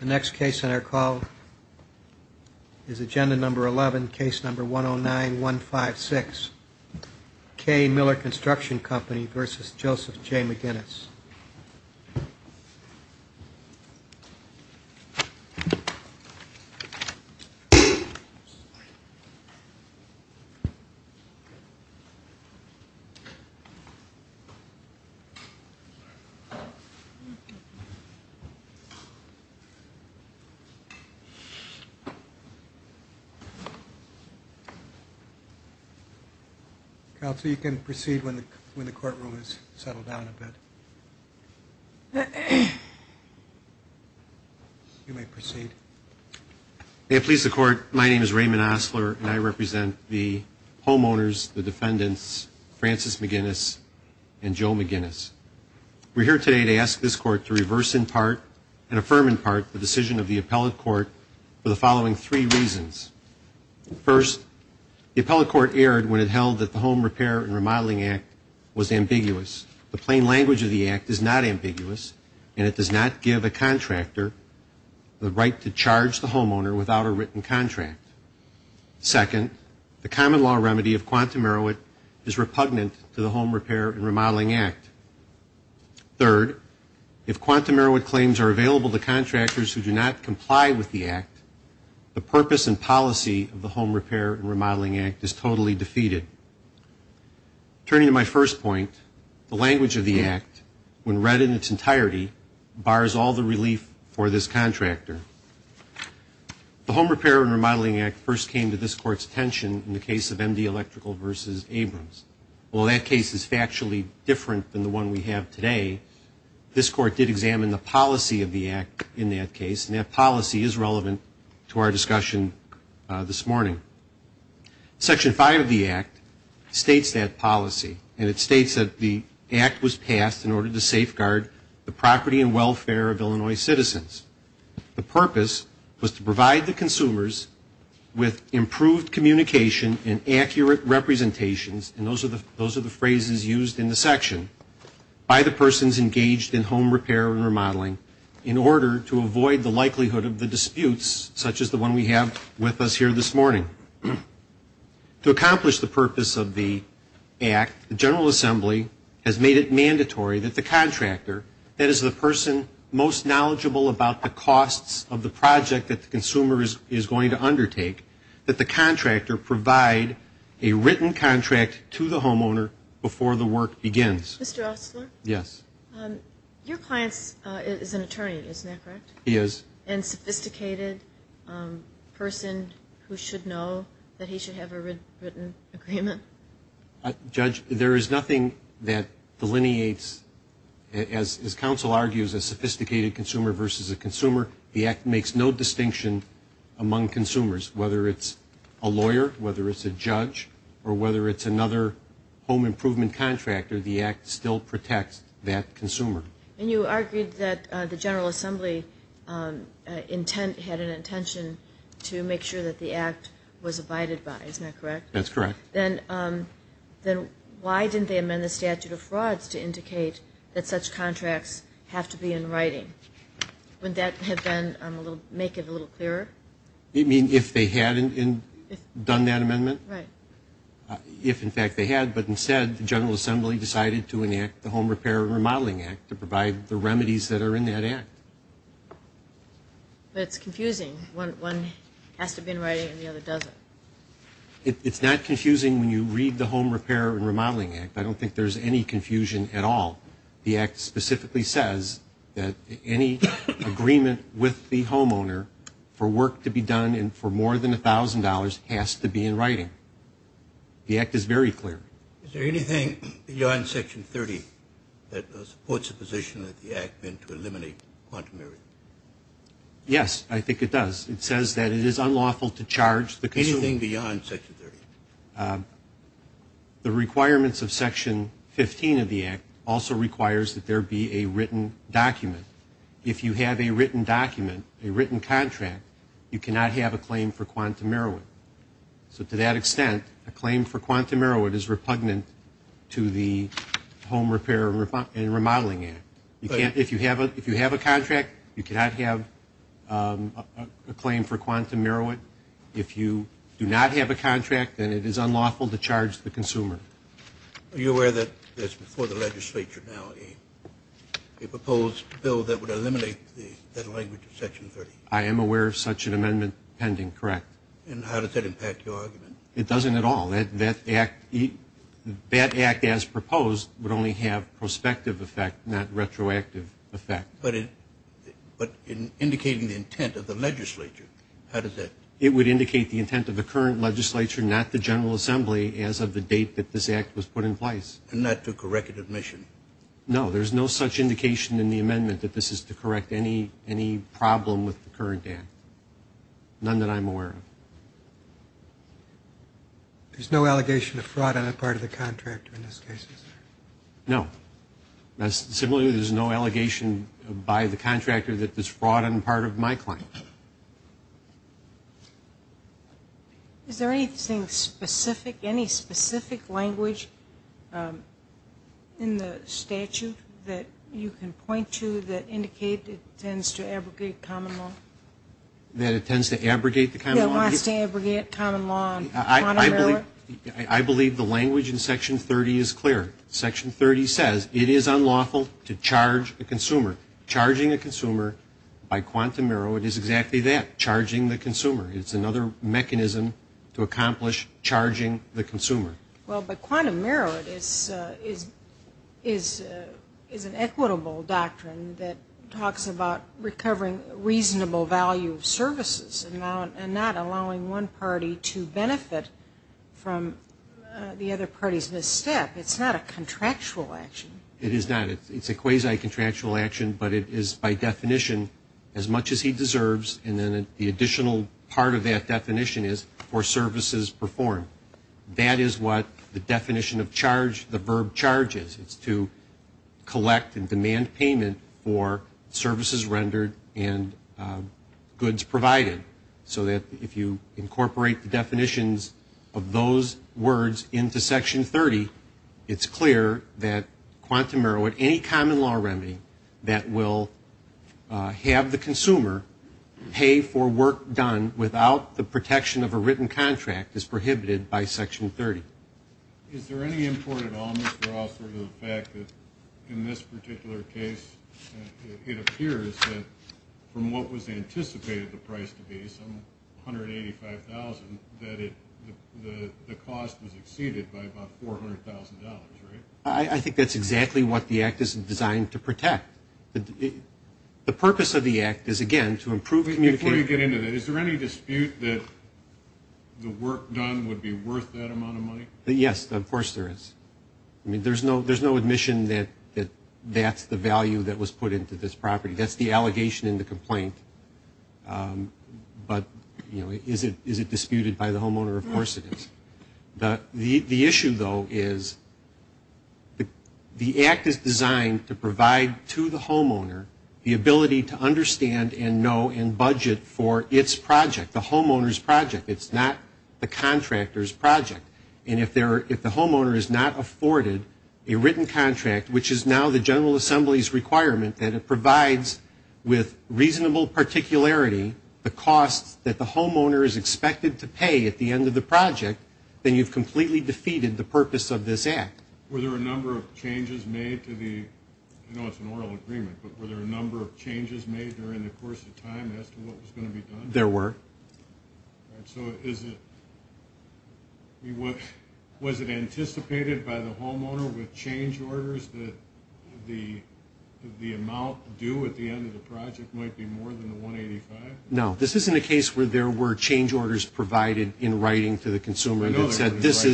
The next case on our call is Agenda Number 11, Case Number 109-156, K. Miller Construction Company v. Joseph J. McGinnis. Counsel, you can proceed when the courtroom is settled down a bit. You may proceed. May it please the Court, my name is Raymond Osler and I represent the homeowners, the defendants, Francis McGinnis and Joe McGinnis. We're here today to ask this Court to reverse in part and affirm in part the decision of the appellate court for the following three reasons. First, the appellate court erred when it held that the Home Repair and Remodeling Act was ambiguous. The plain language of the Act is not ambiguous and it does not give a contractor the right to charge the homeowner without a written contract. Second, the common law remedy of quantum error is repugnant to the Home Repair and Remodeling Act. Third, if quantum error claims are available to contractors who do not comply with the Act, the purpose and policy of the Home Repair and Remodeling Act is totally defeated. Turning to my first point, the language of the Act, when read in its entirety, bars all the relief for this contractor. The Home Repair and Remodeling Act first came to this Court's attention in the case of MD Electrical v. Abrams. While that case is factually different than the one we have today, this Court did examine the policy of the Act in that case and that policy is relevant to our discussion this morning. Section 5 of the Act states that policy and it states that the Act was passed in order to safeguard the property and welfare of Illinois citizens. The purpose was to provide the consumers with improved communication and accurate representations, and those are the phrases used in the section, by the persons engaged in home repair and remodeling in order to avoid the likelihood of the disputes such as the one we have with us here this morning. To accomplish the purpose of the Act, the General Assembly has made it mandatory that the contractor, that is the person most knowledgeable about the costs of the project that the consumer is going to undertake, that the contractor provide a written contract to the homeowner before the work begins. Mr. Ostler? Yes. Your client is an attorney, isn't that correct? He is. And a sophisticated person who should know that he should have a written agreement? Judge, there is nothing that delineates, as counsel argues, a sophisticated consumer versus a consumer. The Act makes no distinction among consumers, whether it's a lawyer, whether it's a judge, or whether it's another home improvement contractor, the Act still protects that consumer. And you argued that the General Assembly had an intention to make sure that the Act was abided by, isn't that correct? That's correct. Then why didn't they amend the statute of frauds to indicate that such contracts have to be in writing? Wouldn't that make it a little clearer? You mean if they hadn't done that amendment? Right. If, in fact, they had, but instead the General Assembly decided to enact the Home Repair and Remodeling Act to provide the remedies that are in that Act. But it's confusing. One has to be in writing and the other doesn't. It's not confusing when you read the Home Repair and Remodeling Act. I don't think there's any confusion at all. The Act specifically says that any agreement with the homeowner for work to be done and for more than $1,000 has to be in writing. The Act is very clear. Is there anything beyond Section 30 that supports the position that the Act meant to eliminate quantum theory? Yes, I think it does. It says that it is unlawful to charge the consumer. Anything beyond Section 30? The requirements of Section 15 of the Act also requires that there be a written document. If you have a written document, a written contract, you cannot have a claim for quantum heroin. So to that extent, a claim for quantum heroin is repugnant to the Home Repair and Remodeling Act. If you have a contract, you cannot have a claim for quantum heroin. If you do not have a contract, then it is unlawful to charge the consumer. Are you aware that there's before the legislature now a proposed bill that would eliminate that language of Section 30? I am aware of such an amendment pending, correct. And how does that impact your argument? It doesn't at all. That Act as proposed would only have prospective effect, not retroactive effect. But in indicating the intent of the legislature, how does that? It would indicate the intent of the current legislature, not the General Assembly, as of the date that this Act was put in place. And not to correct admission? No, there's no such indication in the amendment that this is to correct any problem with the current Act. None that I'm aware of. There's no allegation of fraud on the part of the contractor in this case? No. Similarly, there's no allegation by the contractor that there's fraud on the part of my client. Is there anything specific, any specific language in the statute that you can point to that indicates it tends to abrogate common law? That it tends to abrogate the common law? That it tends to abrogate common law on quantum merit? I believe the language in Section 30 is clear. Section 30 says it is unlawful to charge a consumer. Charging a consumer by quantum merit is exactly that, charging the consumer. Well, but quantum merit is an equitable doctrine that talks about recovering reasonable value of services and not allowing one party to benefit from the other party's misstep. It's not a contractual action. It is not. It's a quasi-contractual action, but it is by definition as much as he deserves, and then the additional part of that definition is for services performed. That is what the definition of charge, the verb charge is. It's to collect and demand payment for services rendered and goods provided, so that if you incorporate the definitions of those words into Section 30, it's clear that quantum merit, any common law remedy that will have the consumer pay for work done without the protection of a written contract is prohibited by Section 30. Is there any import at all, Mr. Osler, to the fact that in this particular case, it appears that from what was anticipated the price to be, some $185,000, that the cost was exceeded by about $400,000, right? I think that's exactly what the Act is designed to protect. The purpose of the Act is, again, to improve communication. Before you get into that, is there any dispute that the work done would be worth that amount of money? Yes, of course there is. I mean, there's no admission that that's the value that was put into this property. That's the allegation in the complaint. But, you know, is it disputed by the homeowner? Of course it is. The issue, though, is the Act is designed to provide to the homeowner the ability to understand and know and budget for its project, the homeowner's project. It's not the contractor's project. And if the homeowner is not afforded a written contract, which is now the General Assembly's requirement, that it provides with reasonable particularity the costs that the homeowner is expected to pay at the end of the project, then you've completely defeated the purpose of this Act. Were there a number of changes made to the, I know it's an oral agreement, but were there a number of changes made during the course of time as to what was going to be done? There were. So was it anticipated by the homeowner with change orders that the amount due at the end of the project might be more than the $185,000? No. This isn't a case where there were change orders provided in writing to the consumer that said this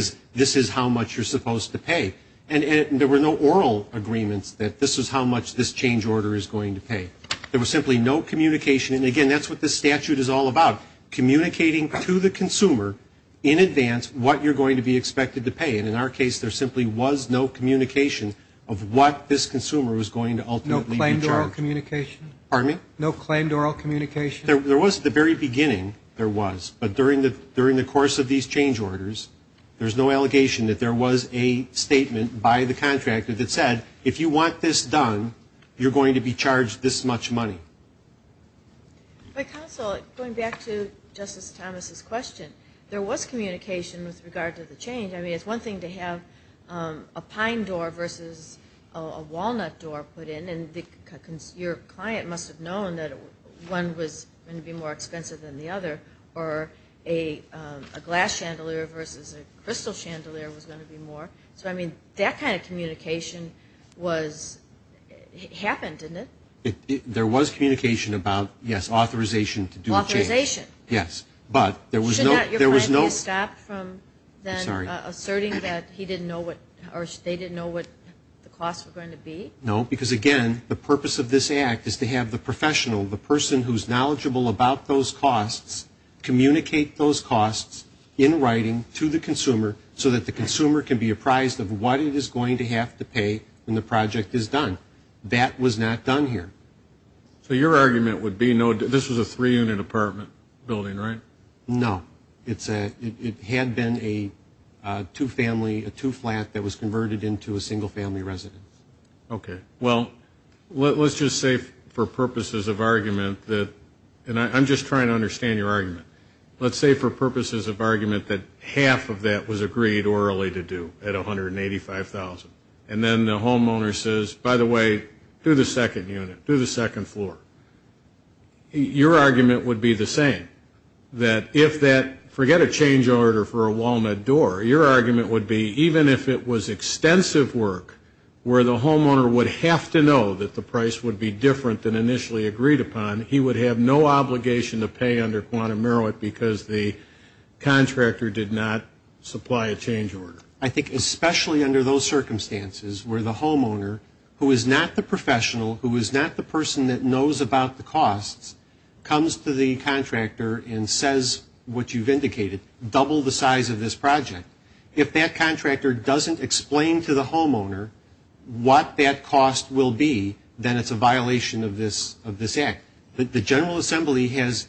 is how much you're supposed to pay. And there were no oral agreements that this is how much this change order is going to pay. There was simply no communication. And, again, that's what this statute is all about, communicating to the consumer in advance what you're going to be expected to pay. And in our case, there simply was no communication of what this consumer was going to ultimately be charged. No claimed oral communication? Pardon me? No claimed oral communication? There was at the very beginning, there was. But during the course of these change orders, there's no allegation that there was a statement by the contractor that said, if you want this done, you're going to be charged this much money. My counsel, going back to Justice Thomas's question, there was communication with regard to the change. I mean, it's one thing to have a pine door versus a walnut door put in, and your client must have known that one was going to be more expensive than the other, or a glass chandelier versus a crystal chandelier was going to be more. So, I mean, that kind of communication happened, didn't it? There was communication about, yes, authorization to do the change. Authorization. Yes, but there was no ‑‑ Should not your client be stopped from then asserting that he didn't know what, or they didn't know what the costs were going to be? No, because, again, the purpose of this act is to have the professional, the person who's knowledgeable about those costs, communicate those costs in writing to the consumer so that the consumer can be apprised of what it is going to have to pay when the project is done. That was not done here. So your argument would be, no, this was a three‑unit apartment building, right? No. It had been a two‑family, a two‑flat that was converted into a single‑family residence. Okay. Well, let's just say for purposes of argument that, and I'm just trying to understand your argument, let's say for purposes of argument that half of that was agreed orally to do at $185,000, and then the homeowner says, by the way, do the second unit, do the second floor. Your argument would be the same, that if that, forget a change order for a walnut door, your argument would be even if it was extensive work where the homeowner would have to know that the price would be different than initially agreed upon, he would have no obligation to pay under quantum merit because the contractor did not supply a change order. I think especially under those circumstances where the homeowner, who is not the professional, who is not the person that knows about the costs, comes to the contractor and says what you've indicated, double the size of this project. If that contractor doesn't explain to the homeowner what that cost will be, then it's a violation of this act. The General Assembly has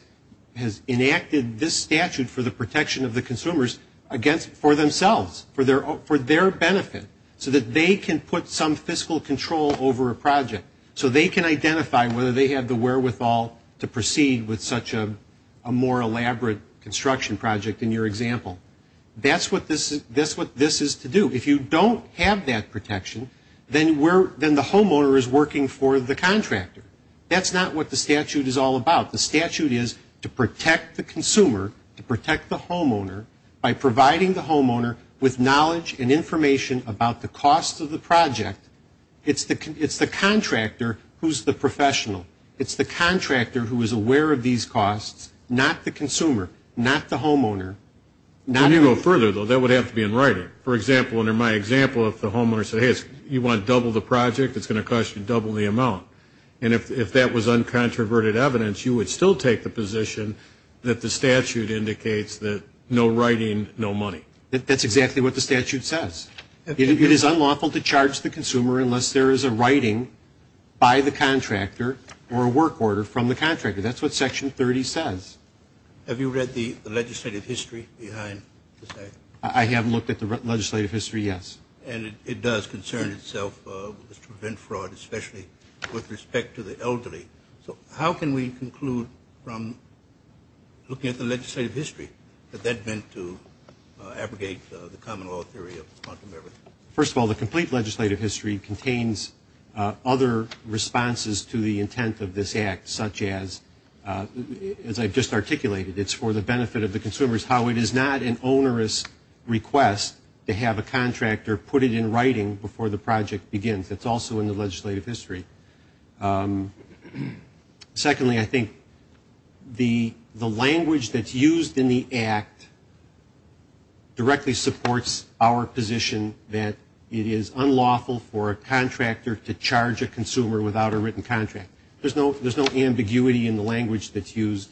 enacted this statute for the protection of the consumers for themselves, for their benefit, so that they can put some fiscal control over a project so they can identify whether they have the wherewithal to proceed with such a more elaborate construction project in your example. That's what this is to do. If you don't have that protection, then the homeowner is working for the contractor. That's not what the statute is all about. The statute is to protect the consumer, to protect the homeowner, by providing the homeowner with knowledge and information about the cost of the project. It's the contractor who's the professional. It's the contractor who is aware of these costs, not the consumer, not the homeowner. When you go further, though, that would have to be in writing. For example, under my example, if the homeowner said, hey, you want to double the project, it's going to cost you double the amount. And if that was uncontroverted evidence, you would still take the position that the statute indicates that no writing, no money. That's exactly what the statute says. It is unlawful to charge the consumer unless there is a writing by the contractor or a work order from the contractor. That's what Section 30 says. Have you read the legislative history behind the statute? I have looked at the legislative history, yes. And it does concern itself with the student fraud, especially with respect to the elderly. So how can we conclude from looking at the legislative history that that's meant to abrogate the common law theory of uncontroverted evidence? First of all, the complete legislative history contains other responses to the intent of this act, such as, as I've just articulated, it's for the benefit of the consumers, how it is not an onerous request to have a contractor put it in writing before the project begins. That's also in the legislative history. Secondly, I think the language that's used in the act directly supports our position that it is unlawful for a contractor to charge a consumer without a written contract. There's no ambiguity in the language that's used.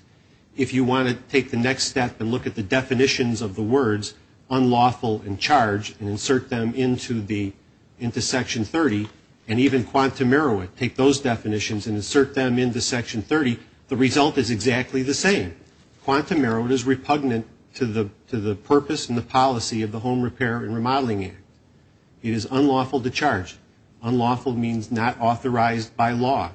If you want to take the next step and look at the definitions of the words unlawful and charge and insert them into Section 30, and even quantum merit, take those definitions and insert them into Section 30, the result is exactly the same. Quantum merit is repugnant to the purpose and the policy of the Home Repair and Remodeling Act. It is unlawful to charge. Unlawful means not authorized by law.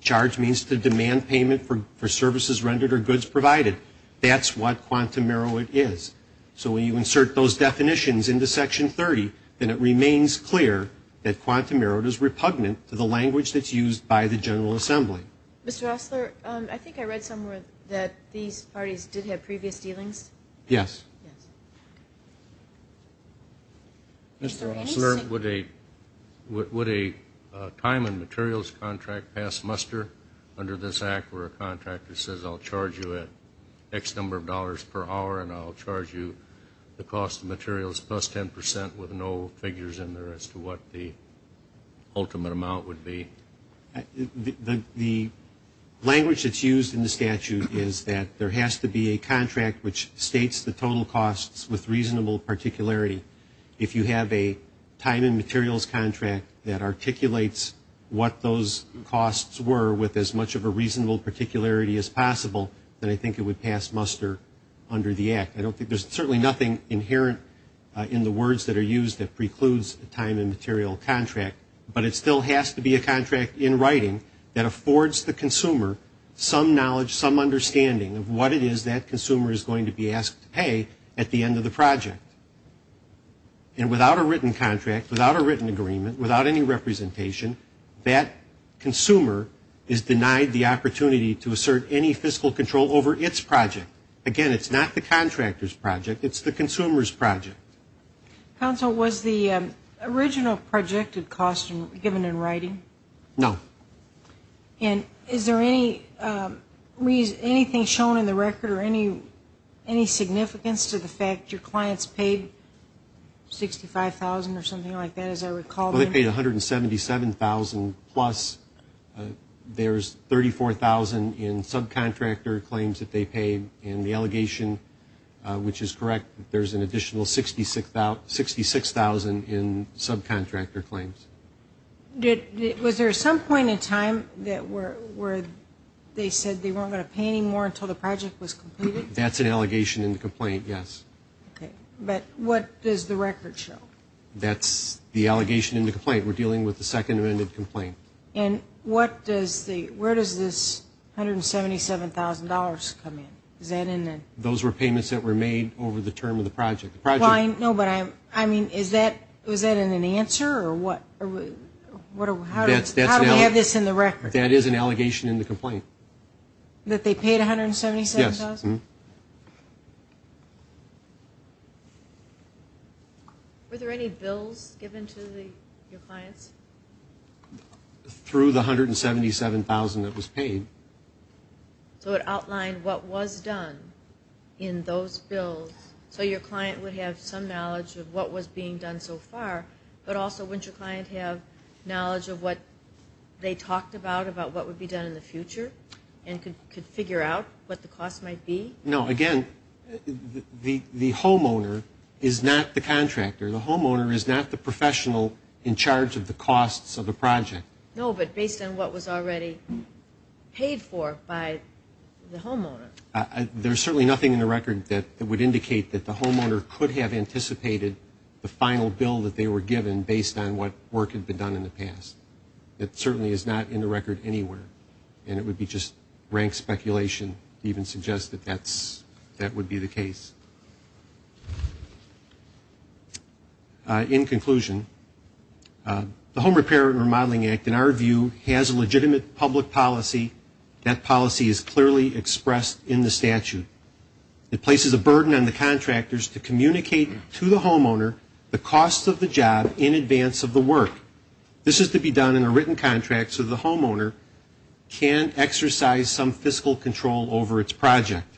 Charge means to demand payment for services rendered or goods provided. That's what quantum merit is. So when you insert those definitions into Section 30, then it remains clear that quantum merit is repugnant to the language that's used by the General Assembly. Mr. Osler, I think I read somewhere that these parties did have previous dealings. Yes. Mr. Osler, would a time and materials contract pass muster under this act where a contractor says I'll charge you an X number of dollars per hour and I'll charge you the cost of materials plus 10% with no figures in there as to what the ultimate amount would be? The language that's used in the statute is that there has to be a contract which states the total costs with reasonable particularity. If you have a time and materials contract that articulates what those costs were with as much of a reasonable particularity as possible, then I think it would pass muster under the act. I don't think there's certainly nothing inherent in the words that are used that precludes a time and material contract, but it still has to be a contract in writing that affords the consumer some knowledge, some understanding of what it is that consumer is going to be asked to pay at the end of the project. And without a written contract, without a written agreement, without any representation, that consumer is denied the opportunity to assert any fiscal control over its project. Again, it's not the contractor's project. It's the consumer's project. Counsel, was the original projected cost given in writing? No. And is there anything shown in the record or any significance to the fact your clients paid $65,000 or something like that, as I recall? Well, they paid $177,000-plus. There's $34,000 in subcontractor claims that they paid, and the allegation, which is correct, there's an additional $66,000 in subcontractor claims. Was there some point in time where they said they weren't going to pay any more until the project was completed? That's an allegation in the complaint, yes. Okay. But what does the record show? That's the allegation in the complaint. We're dealing with the Second Amendment complaint. And where does this $177,000 come in? Those were payments that were made over the term of the project. No, but I mean, is that in an answer or what? How do we have this in the record? That is an allegation in the complaint. That they paid $177,000? Yes. Mm-hmm. Were there any bills given to your clients? Through the $177,000 that was paid. So it outlined what was done in those bills, so your client would have some knowledge of what was being done so far, but also wouldn't your client have knowledge of what they talked about, what would be done in the future and could figure out what the cost might be? No. Again, the homeowner is not the contractor. The homeowner is not the professional in charge of the costs of the project. No, but based on what was already paid for by the homeowner. There's certainly nothing in the record that would indicate that the homeowner could have anticipated the final bill that they were given based on what work had been done in the past. It certainly is not in the record anywhere, and it would be just rank speculation to even suggest that that would be the case. In conclusion, the Home Repair and Remodeling Act, in our view, has a legitimate public policy. That policy is clearly expressed in the statute. It places a burden on the contractors to communicate to the homeowner the costs of the job in advance of the work. This is to be done in a written contract so the homeowner can't exercise some fiscal control over its project.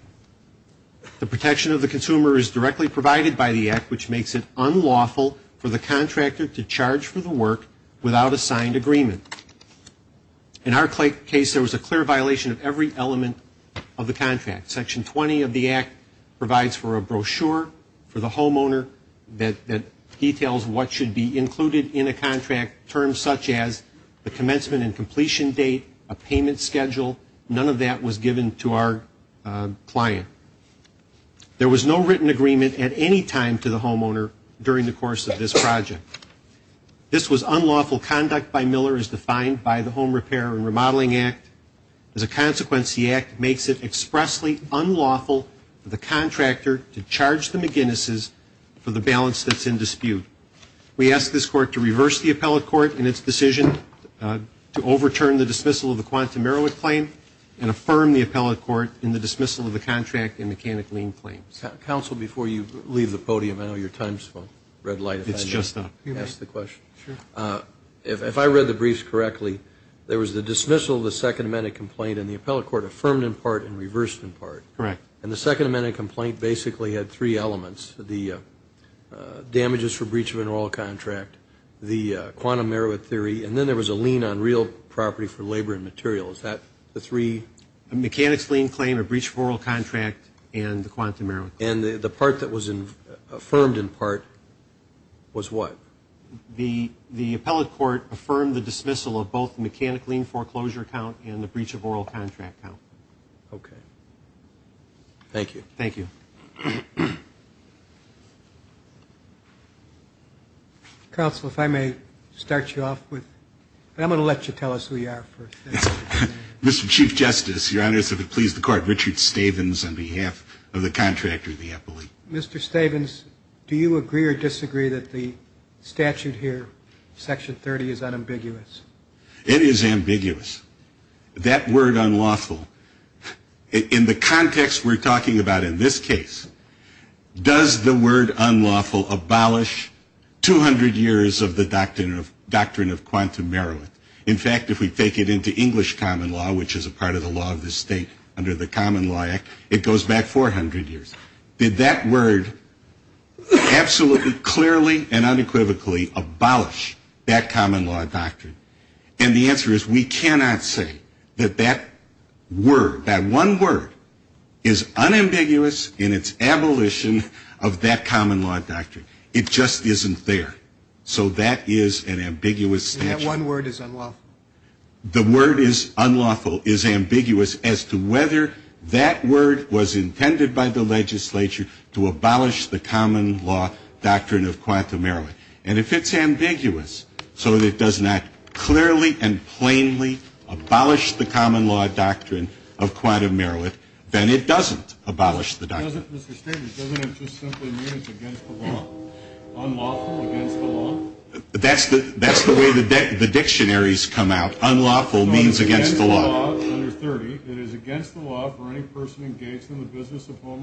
The protection of the consumer is directly provided by the act, which makes it unlawful for the contractor to charge for the work without a signed agreement. In our case, there was a clear violation of every element of the contract. Section 20 of the act provides for a brochure for the homeowner that details what should be included in a contract, terms such as the commencement and completion date, a payment schedule. None of that was given to our client. There was no written agreement at any time to the homeowner during the course of this project. This was unlawful conduct by Miller as defined by the Home Repair and Remodeling Act. As a consequence, the act makes it expressly unlawful for the contractor to We ask this court to reverse the appellate court in its decision to overturn the dismissal of the Quantum Meroweth Claim and affirm the appellate court in the dismissal of the Contract and Mechanic Lien Claims. Counsel, before you leave the podium, I know your time is up. It's just up. Ask the question. If I read the briefs correctly, there was the dismissal of the Second Amendment Complaint and the appellate court affirmed in part and reversed in part. And the Second Amendment Complaint basically had three elements, the damages for breach of an oral contract, the Quantum Meroweth Theory, and then there was a lien on real property for labor and material. Is that the three? A Mechanic's Lien Claim, a Breach of Oral Contract, and the Quantum Meroweth Claim. And the part that was affirmed in part was what? The appellate court affirmed the dismissal of both the Mechanic Lien Foreclosure Count and the Breach of Oral Contract Count. Okay. Thank you. Counsel, if I may start you off with, and I'm going to let you tell us who you are first. Mr. Chief Justice, Your Honors, if it please the Court, Richard Stavins on behalf of the contractor of the appellate. Mr. Stavins, do you agree or disagree that the statute here, Section 30, is unambiguous? It is ambiguous. That word unlawful, in the context we're talking about, in this case, does the word unlawful abolish 200 years of the Doctrine of Quantum Meroweth? In fact, if we take it into English common law, which is a part of the law of the state under the Common Law Act, it goes back 400 years. Did that word absolutely, clearly, and unequivocally abolish that common law doctrine? And the answer is we cannot say that that word, that one word, is unambiguous in its abolition of that common law doctrine. It just isn't there. So that is an ambiguous statute. That one word is unlawful. The word is unlawful, is ambiguous, as to whether that word was intended by the legislature to abolish the common law doctrine of quantum meroweth. And if it's ambiguous so that it does not clearly and plainly abolish the common law doctrine of quantum meroweth, then it doesn't abolish the doctrine. Doesn't it just simply mean it's against the law? Unlawful, against the law? That's the way the dictionaries come out. Unlawful means against the law. Under 30, it is against the law for any person engaged in the business of home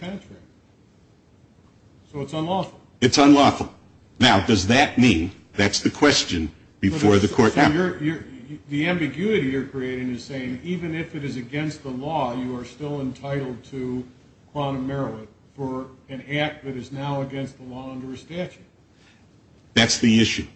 country. So it's unlawful. It's unlawful. Now, does that mean that's the question before the court? The ambiguity you're creating is saying even if it is against the law, you are still entitled to quantum meroweth for an act that is now against the law under a statute. That's the issue.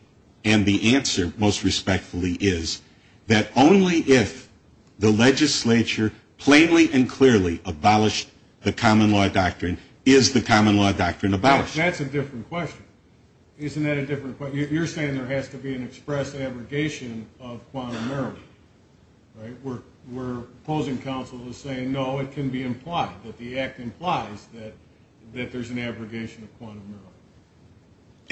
And the answer, most respectfully, is that only if the legislature plainly and expressly repeals the common law doctrine is the common law doctrine abolished. That's a different question. Isn't that a different question? You're saying there has to be an express abrogation of quantum meroweth, right? We're opposing counsel to say, no, it can be implied, that the act implies that there's an abrogation of quantum meroweth.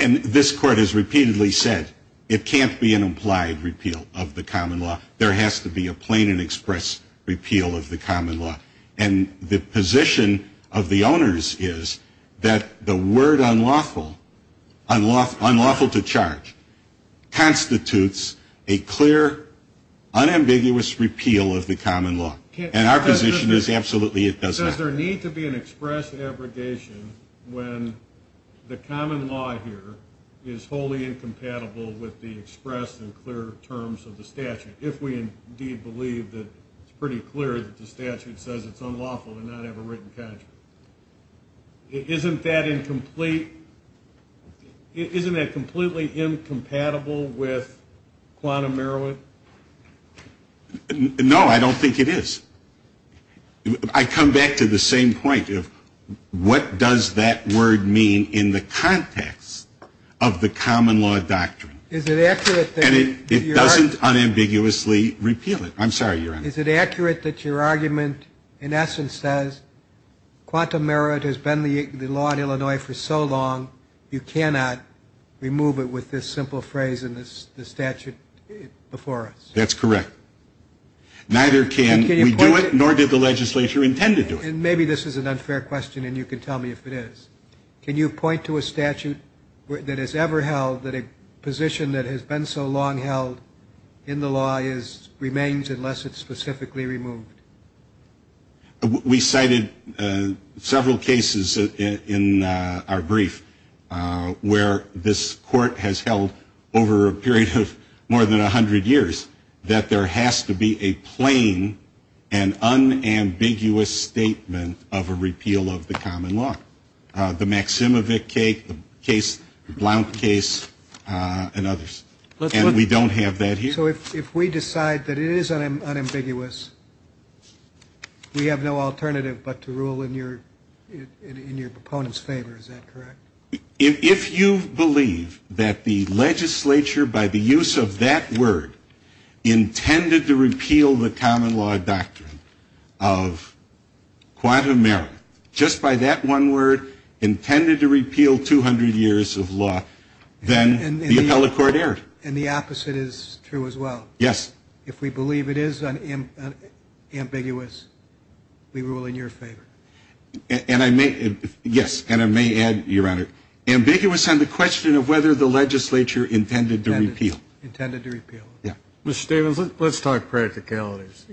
And this court has repeatedly said it can't be an implied repeal of the common law. There has to be a plain and express repeal of the common law. And the position of the owners is that the word unlawful, unlawful to charge, constitutes a clear, unambiguous repeal of the common law. And our position is absolutely it doesn't. Does there need to be an express abrogation when the common law here is wholly incompatible with the express and clear terms of the statute? If we indeed believe that it's pretty clear that the statute says it's unlawful to not have a written contract. Isn't that incomplete? Isn't that completely incompatible with quantum meroweth? No, I don't think it is. I come back to the same point of what does that word mean in the context of the common law doctrine? And it doesn't unambiguously repeal it. I'm sorry, Your Honor. Is it accurate that your argument in essence says quantum meroweth has been the law in Illinois for so long you cannot remove it with this simple phrase in the statute before us? That's correct. Neither can we do it nor did the legislature intend to do it. Maybe this is an unfair question and you can tell me if it is. Can you point to a statute that has ever held that a position that has been so long held in the law remains unless it's specifically removed? We cited several cases in our brief where this court has held over a period of more than 100 years that there has to be a plain and unambiguous statement of a case, the Blount case and others. And we don't have that here. So if we decide that it is unambiguous, we have no alternative but to rule in your proponent's favor, is that correct? If you believe that the legislature by the use of that word intended to repeal the common law doctrine of quantum meroweth, just by that one word intended to repeal 200 years of law, then the appellate court erred. And the opposite is true as well. Yes. If we believe it is unambiguous, we rule in your favor. Yes, and I may add, Your Honor, ambiguous on the question of whether the legislature intended to repeal. Intended to repeal. Yeah. Mr. Stevens, let's talk practicalities.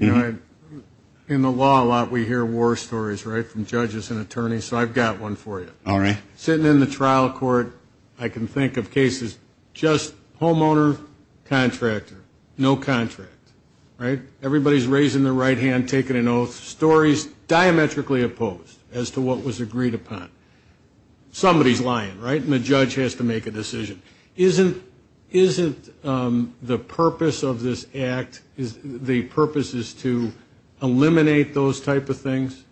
In the law a lot we hear war stories, right, from judges and attorneys. So I've got one for you. All right. Sitting in the trial court, I can think of cases, just homeowner, contractor, no contract, right? Everybody's raising their right hand, taking an oath. Stories diametrically opposed as to what was agreed upon. Somebody's lying, right, and the judge has to make a decision. Isn't the purpose of this act, the purpose is to eliminate those type of things?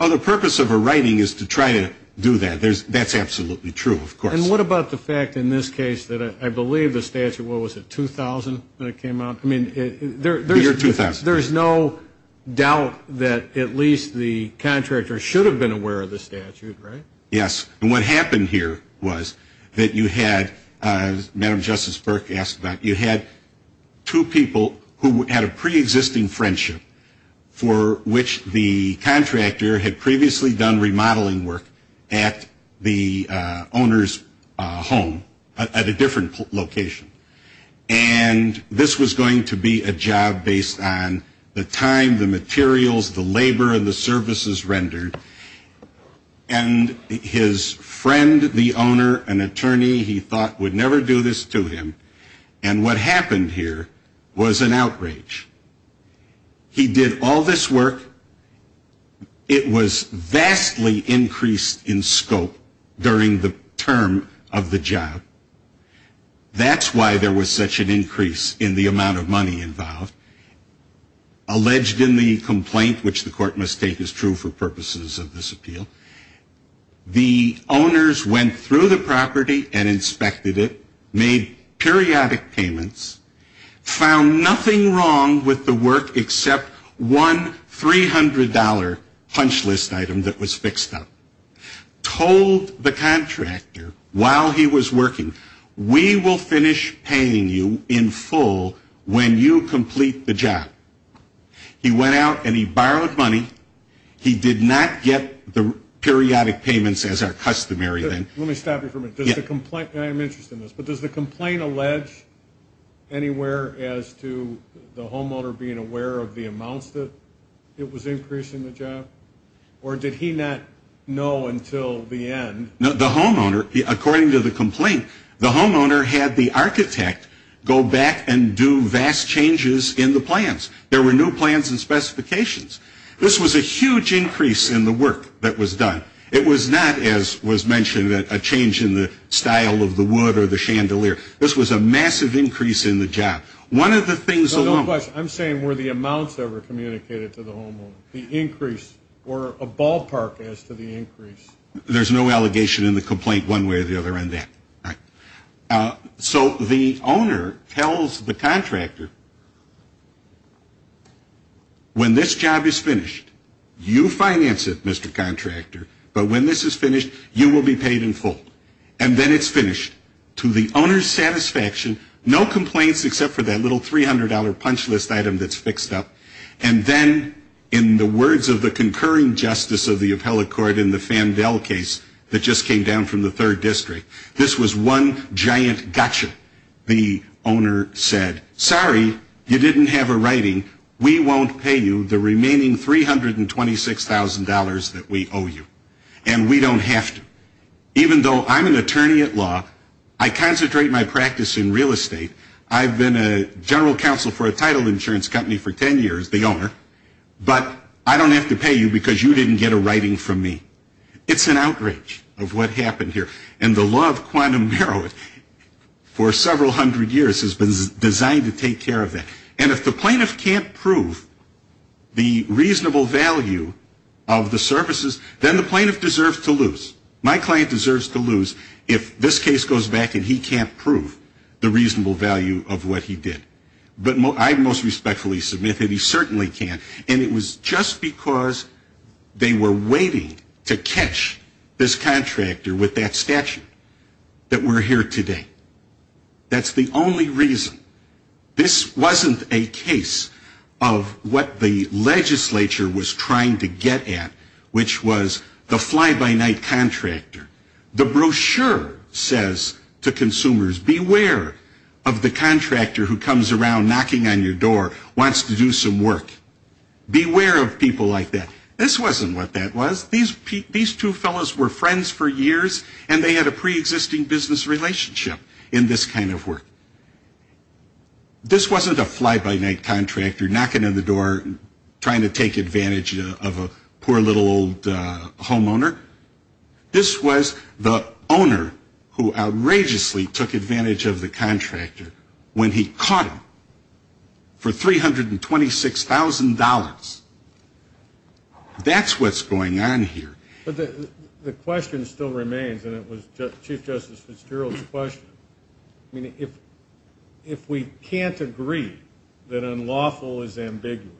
The purpose of a writing is to try to do that. That's absolutely true, of course. And what about the fact in this case that I believe the statute, what was it, 2000 when it came out? I mean, there's no doubt that at least the contractor should have been aware of the statute, right? Yes. And what happened here was that you had, as Madam Justice Burke asked about, you had two people who had a preexisting friendship for which the contractor had previously done remodeling work at the owner's home at a different location. And this was going to be a job based on the time, the materials, the labor, and the services rendered. And his friend, the owner, an attorney, he thought would never do this to him. And what happened here was an outrage. He did all this work. It was vastly increased in scope during the term of the job. That's why there was such an increase in the amount of money involved. Alleged in the complaint, which the court must take as true for purposes of this appeal, the owners went through the property and inspected it, made periodic payments, found nothing wrong with the work except one $300 punch list item that was fixed up, told the contractor while he was working, we will finish paying you in full when you complete the job. He went out and he borrowed money. He did not get the periodic payments as our customary thing. Let me stop you for a minute. I am interested in this. But does the complaint allege anywhere as to the homeowner being aware of the amounts that it was increasing the job? Or did he not know until the end? The homeowner, according to the complaint, the homeowner had the architect go back and do vast changes in the plans. There were no plans and specifications. This was a huge increase in the work that was done. It was not, as was mentioned, a change in the style of the wood or the chandelier. This was a massive increase in the job. One of the things alone. I'm saying were the amounts ever communicated to the homeowner, the increase or a ballpark as to the increase? There's no allegation in the complaint one way or the other on that. So the owner tells the contractor, when this job is finished, you finance it, Mr. Contractor. But when this is finished, you will be paid in full. And then it's finished. To the owner's satisfaction, no complaints except for that little $300 punch list item that's fixed up. And then in the words of the concurring justice of the appellate court in the Fandel case that just came down from the third district, this was one giant gotcha. The owner said, sorry, you didn't have a writing. We won't pay you the remaining $326,000 that we owe you. And we don't have to. Even though I'm an attorney at law, I concentrate my practice in real estate. I've been a general counsel for a title insurance company for 10 years, the owner. But I don't have to pay you because you didn't get a writing from me. It's an outrage of what happened here. And the law of quantum narrow it for several hundred years has been designed to take care of that. And if the plaintiff can't prove the reasonable value of the services, then the plaintiff deserves to lose. My client deserves to lose if this case goes back and he can't prove the reasonable value of what he did. But I most respectfully submit that he certainly can. And it was just because they were waiting to catch this contractor with that statute that we're here today. That's the only reason. This wasn't a case of what the legislature was trying to get at, which was the fly-by-night contractor. The brochure says to consumers, beware of the contractor who comes around knocking on your door, wants to do some work. Beware of people like that. This wasn't what that was. These two fellows were friends for years, and they had a preexisting business relationship in this kind of work. This wasn't a fly-by-night contractor knocking on the door, trying to take advantage of a poor little old homeowner. This was the owner who outrageously took advantage of the contractor when he caught him for $326,000. That's what's going on here. But the question still remains, and it was Chief Justice Fitzgerald's question. I mean, if we can't agree that unlawful is ambiguous,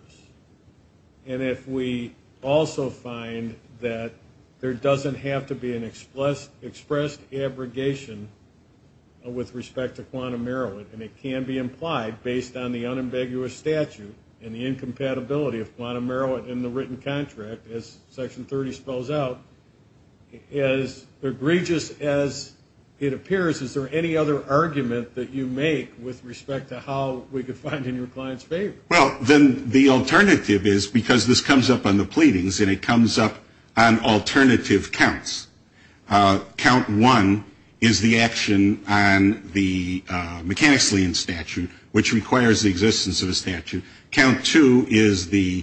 and if we also find that there doesn't have to be an expressed abrogation with respect to quantum merriment, and it can be implied based on the unambiguous statute and the incompatibility of quantum merriment in the written contract, as Section 30 spells out, as egregious as it appears, is there any other argument that you make with respect to how we can find in your client's favor? Well, then the alternative is, because this comes up on the pleadings, and it comes up on alternative counts, count one is the action on the mechanics lien statute, which requires the existence of a statute. Count two is the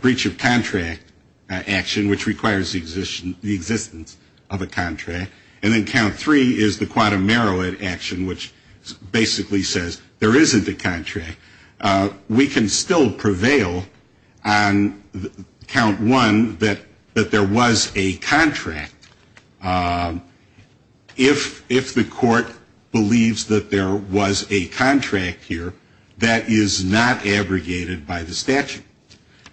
breach of contract action, which requires the existence of a contract. And then count three is the quantum merriment action, which basically says there isn't a contract. We can still prevail on count one, that there was a contract. If the court believes that there was a contract here, that is not abrogated by the statute.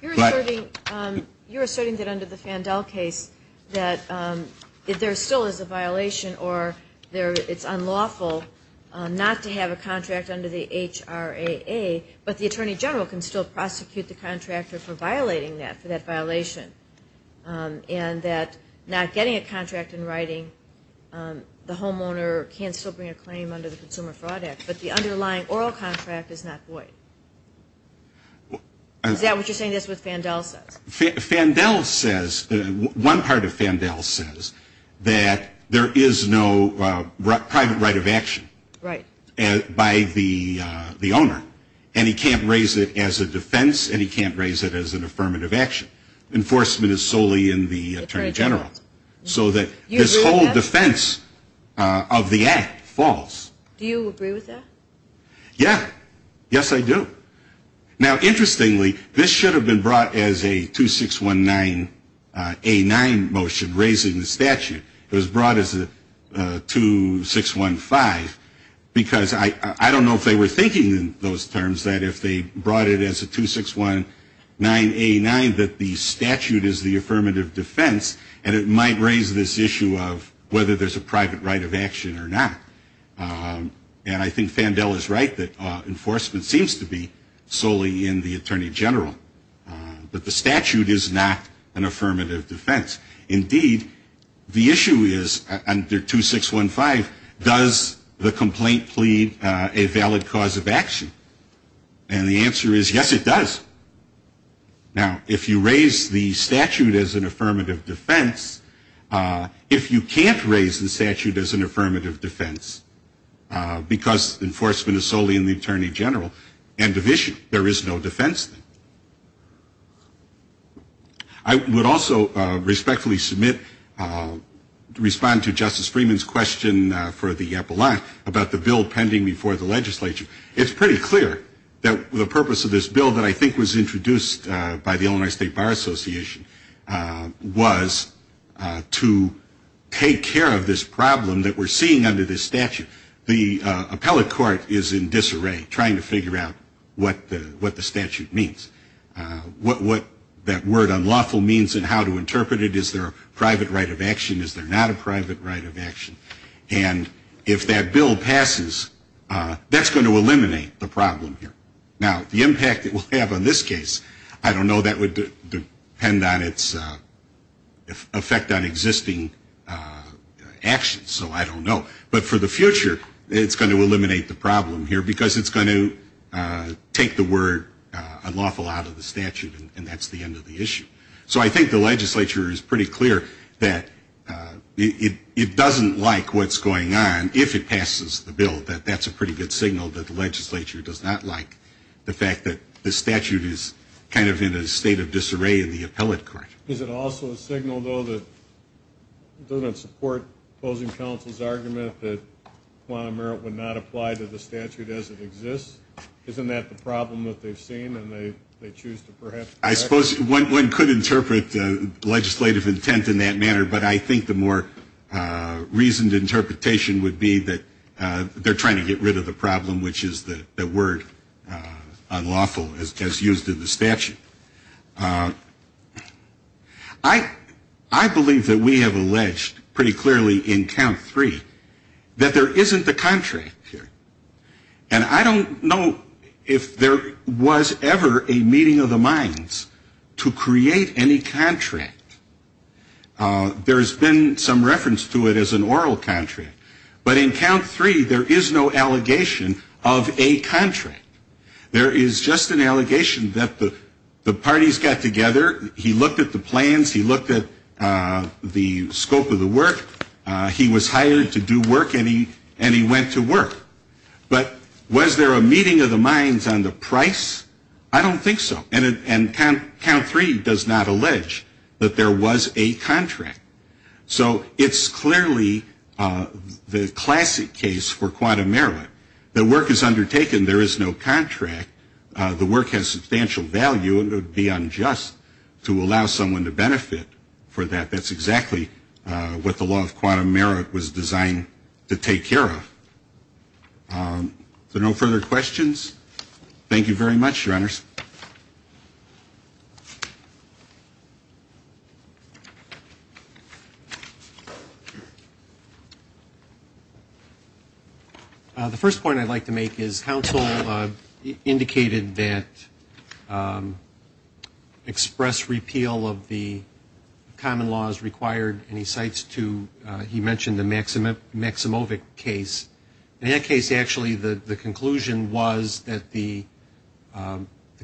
You're asserting that under the Fandel case that there still is a violation, or it's unlawful not to have a contract under the HRAA, but the attorney general can still prosecute the contractor for violating that, for that violation, and that not getting a contract in writing, the homeowner can still bring a claim under the Consumer Fraud Act, but the underlying oral contract is not void. Is that what you're saying? That's what Fandel says? Fandel says, one part of Fandel says that there is no private right of action by the owner, and he can't raise it as a defense, and he can't raise it as an affirmative action. Enforcement is solely in the attorney general. So that this whole defense of the act falls. Do you agree with that? Yeah. Yes, I do. Now, interestingly, this should have been brought as a 2619A9 motion raising the statute. It was brought as a 2615, because I don't know if they were thinking in those terms that if they brought it as a 2619A9 that the statute is the affirmative defense, and it might raise this issue of whether there's a private right of action or not. And I think Fandel is right that enforcement seems to be solely in the attorney general, but the statute is not an affirmative defense. Indeed, the issue is under 2615, does the complaint plead a valid cause of action? And the answer is yes, it does. Now, if you raise the statute as an affirmative defense, if you can't raise the statute as an affirmative defense, because enforcement is solely in the attorney general and division, there is no defense then. I would also respectfully submit, respond to Justice Freeman's question for the epilogue about the bill pending before the legislature. It's pretty clear that the purpose of this bill that I think was introduced by the Illinois State Bar Association was to take care of this problem that we're seeing under this statute. The appellate court is in disarray trying to figure out what the statute means, what that word unlawful means and how to interpret it. Is there a private right of action? Is there not a private right of action? And if that bill passes, that's going to eliminate the problem here. Now, the impact it will have on this case, I don't know. That would depend on its effect on existing actions, so I don't know. But for the future, it's going to eliminate the problem here because it's going to take the word unlawful out of the statute and that's the end of the issue. So I think the legislature is pretty clear that it doesn't like what's going on if it passes the bill, that that's a pretty good signal that the legislature does not like the fact that the statute is kind of in a state of disarray in the appellate court. Is it also a signal, though, that it doesn't support opposing counsel's argument that quantum merit would not apply to the statute as it exists? Isn't that the problem that they've seen and they choose to perhaps correct it? I suppose one could interpret legislative intent in that manner, but I think the more reasoned interpretation would be that they're trying to get rid of the problem, which is the word unlawful as used in the statute. I believe that we have alleged pretty clearly in count three that there isn't the contract here. And I don't know if there was ever a meeting of the minds to create any contract. There's been some reference to it as an oral contract. But in count three, there is no allegation of a contract. There is just an allegation that the parties got together, he looked at the plans, he looked at the scope of the work, he was hired to do work, and he went to work. But was there a meeting of the minds on the price? I don't think so. And count three does not allege that there was a contract. So it's clearly the classic case for quantum merit. The work is undertaken. There is no contract. The work has substantial value, and it would be unjust to allow someone to benefit for that. That's exactly what the law of quantum merit was designed to take care of. So no further questions? Thank you very much, Your Honors. Thanks. The first point I'd like to make is counsel indicated that express repeal of the common law is required, and he cites to, he mentioned the Maximovic case. In that case, actually, the conclusion was that the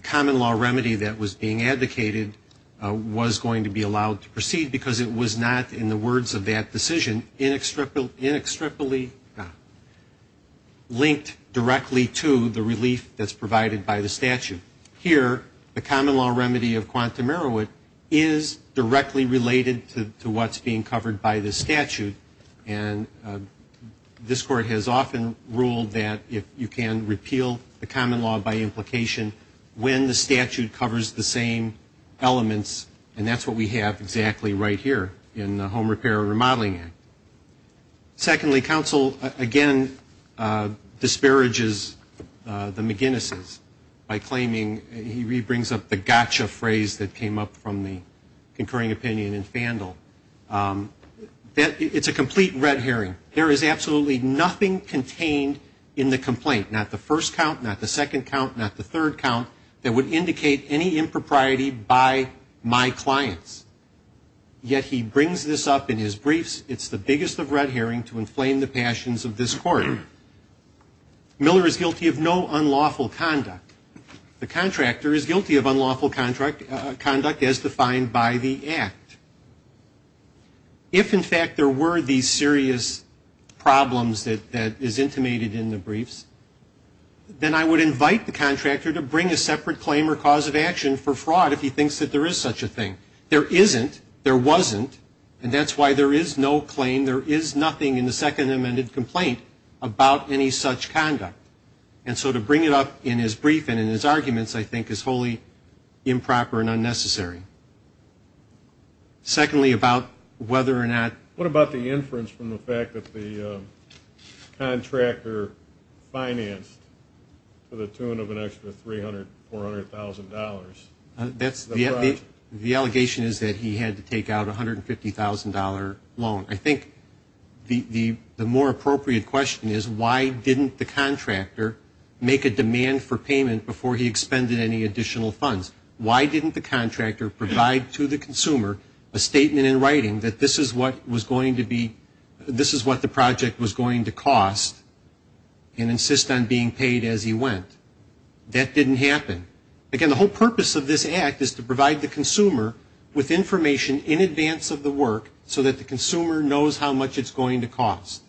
common law remedy that was being advocated was going to be allowed to proceed because it was not, in the words of that decision, inextricably linked directly to the relief that's provided by the statute. Here, the common law remedy of quantum merit is directly related to what's being covered by the statute, and this Court has often ruled that you can repeal the common law by implication when the statute covers the same elements, and that's what we have exactly right here in the Home Repair and Remodeling Act. Secondly, counsel, again, disparages the McGuinnesses by claiming, he brings up the gotcha phrase that came up from the concurring opinion in Fandel. It's a complete red herring. There is absolutely nothing contained in the complaint, not the first count, not the second count, not the third count, that would indicate any impropriety by my clients. Yet he brings this up in his briefs. It's the biggest of red herring to inflame the passions of this Court. Miller is guilty of no unlawful conduct. The contractor is guilty of unlawful conduct as defined by the Act. If, in fact, there were these serious problems that is intimated in the briefs, then I would invite the contractor to bring a separate claim or cause of action for fraud if he thinks that there is such a thing. There isn't, there wasn't, and that's why there is no claim, there is nothing in the second amended complaint about any such conduct. And so to bring it up in his brief and in his arguments, I think, is wholly improper and unnecessary. Secondly, about whether or not. What about the inference from the fact that the contractor financed to the tune of an extra $300,000, $400,000? The allegation is that he had to take out a $150,000 loan. I think the more appropriate question is, why didn't the contractor make a demand for payment before he expended any additional funds? Why didn't the contractor provide to the consumer a statement in writing that this is what was going to be, this is what the project was going to cost and insist on being paid as he went? That didn't happen. Again, the whole purpose of this Act is to provide the consumer with information in advance of the work so that the consumer knows how much it's going to cost.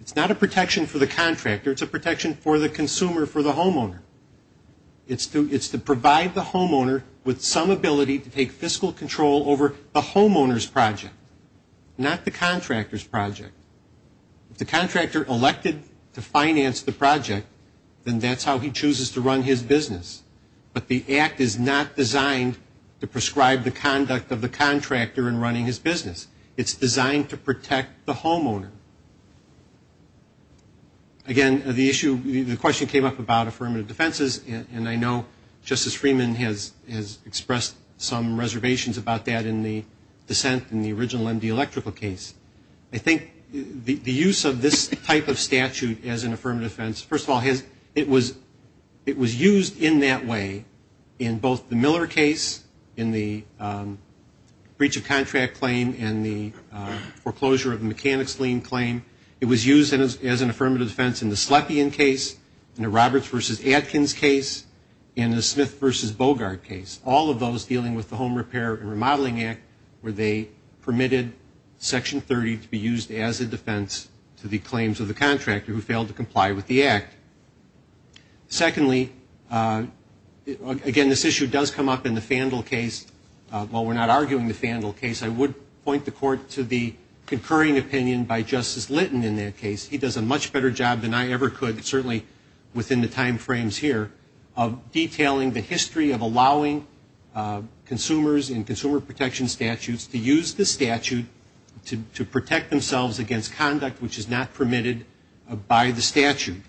It's not a protection for the contractor. It's a protection for the consumer, for the homeowner. It's to provide the homeowner with some ability to take fiscal control over the homeowner's project, not the contractor's project. If the contractor elected to finance the project, then that's how he chooses to run his business. But the Act is not designed to prescribe the conduct of the contractor in running his business. It's designed to protect the homeowner. Again, the issue, the question came up about affirmative defenses, and I know Justice Freeman has expressed some reservations about that in the dissent in the original MD Electrical case. I think the use of this type of statute as an affirmative defense, first of all, it was used in that way in both the Miller case, in the breach of contract claim, and the foreclosure of the mechanics lien claim. It was used as an affirmative defense in the Slepian case, in the Roberts v. Atkins case, and the Smith v. Bogart case, all of those dealing with the Home Repair and Remodeling Act where they permitted Section 30 to be used as a defense to the claims of the contractor who failed to comply with the Act. Secondly, again, this issue does come up in the Fandel case. While we're not arguing the Fandel case, I would point the Court to the concurring opinion by Justice Lytton in that case. He does a much better job than I ever could, certainly within the time frames here, of detailing the history of allowing consumers in consumer protection statutes to use this statute to protect themselves against conduct which is not permitted by the statute.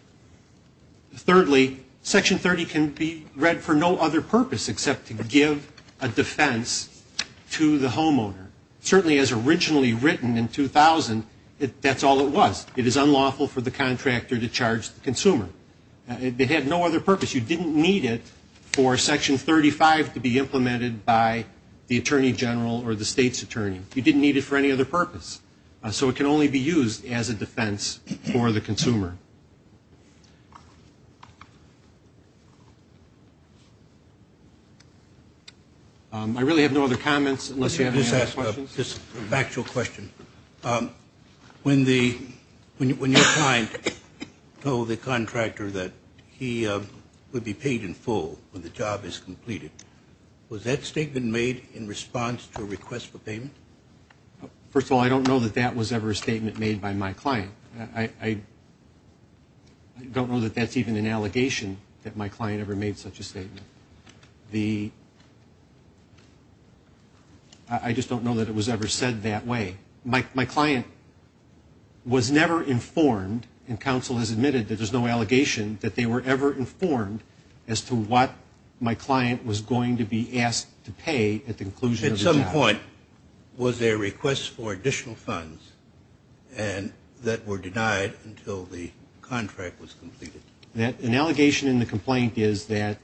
Thirdly, Section 30 can be read for no other purpose except to give a defense to the homeowner. Certainly as originally written in 2000, that's all it was. It is unlawful for the contractor to charge the consumer. It had no other purpose. You didn't need it for Section 35 to be implemented by the attorney general or the state's attorney. You didn't need it for any other purpose. So it can only be used as a defense for the consumer. I really have no other comments unless you have any other questions. Just a factual question. When your client told the contractor that he would be paid in full when the job is completed, was that statement made in response to a request for payment? First of all, I don't know that that was ever a statement made by my client. I don't know that that's even an allegation that my client ever made such a statement. I just don't know that it was ever said that way. My client was never informed, and counsel has admitted that there's no allegation, that they were ever informed as to what my client was going to be asked to pay at the conclusion of the job. At some point, was there a request for additional funds that were denied until the contract was completed? An allegation in the complaint is that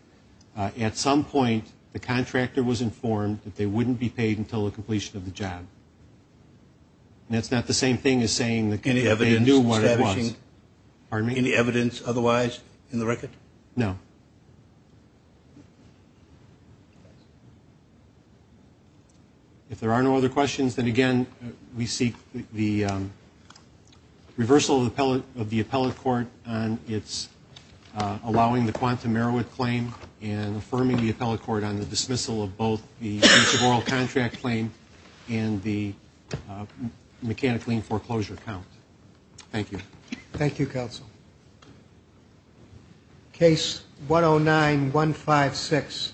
at some point the contractor was informed that they wouldn't be paid until the completion of the job. That's not the same thing as saying that they knew what it was. Any evidence otherwise in the record? No. If there are no other questions, then, again, we seek the reversal of the appellate court on its allowing the Quantum Merowith claim and affirming the appellate court on the dismissal of both the offensive oral contract claim and the mechanic lien foreclosure count. Thank you. Thank you, counsel. Case 109-156.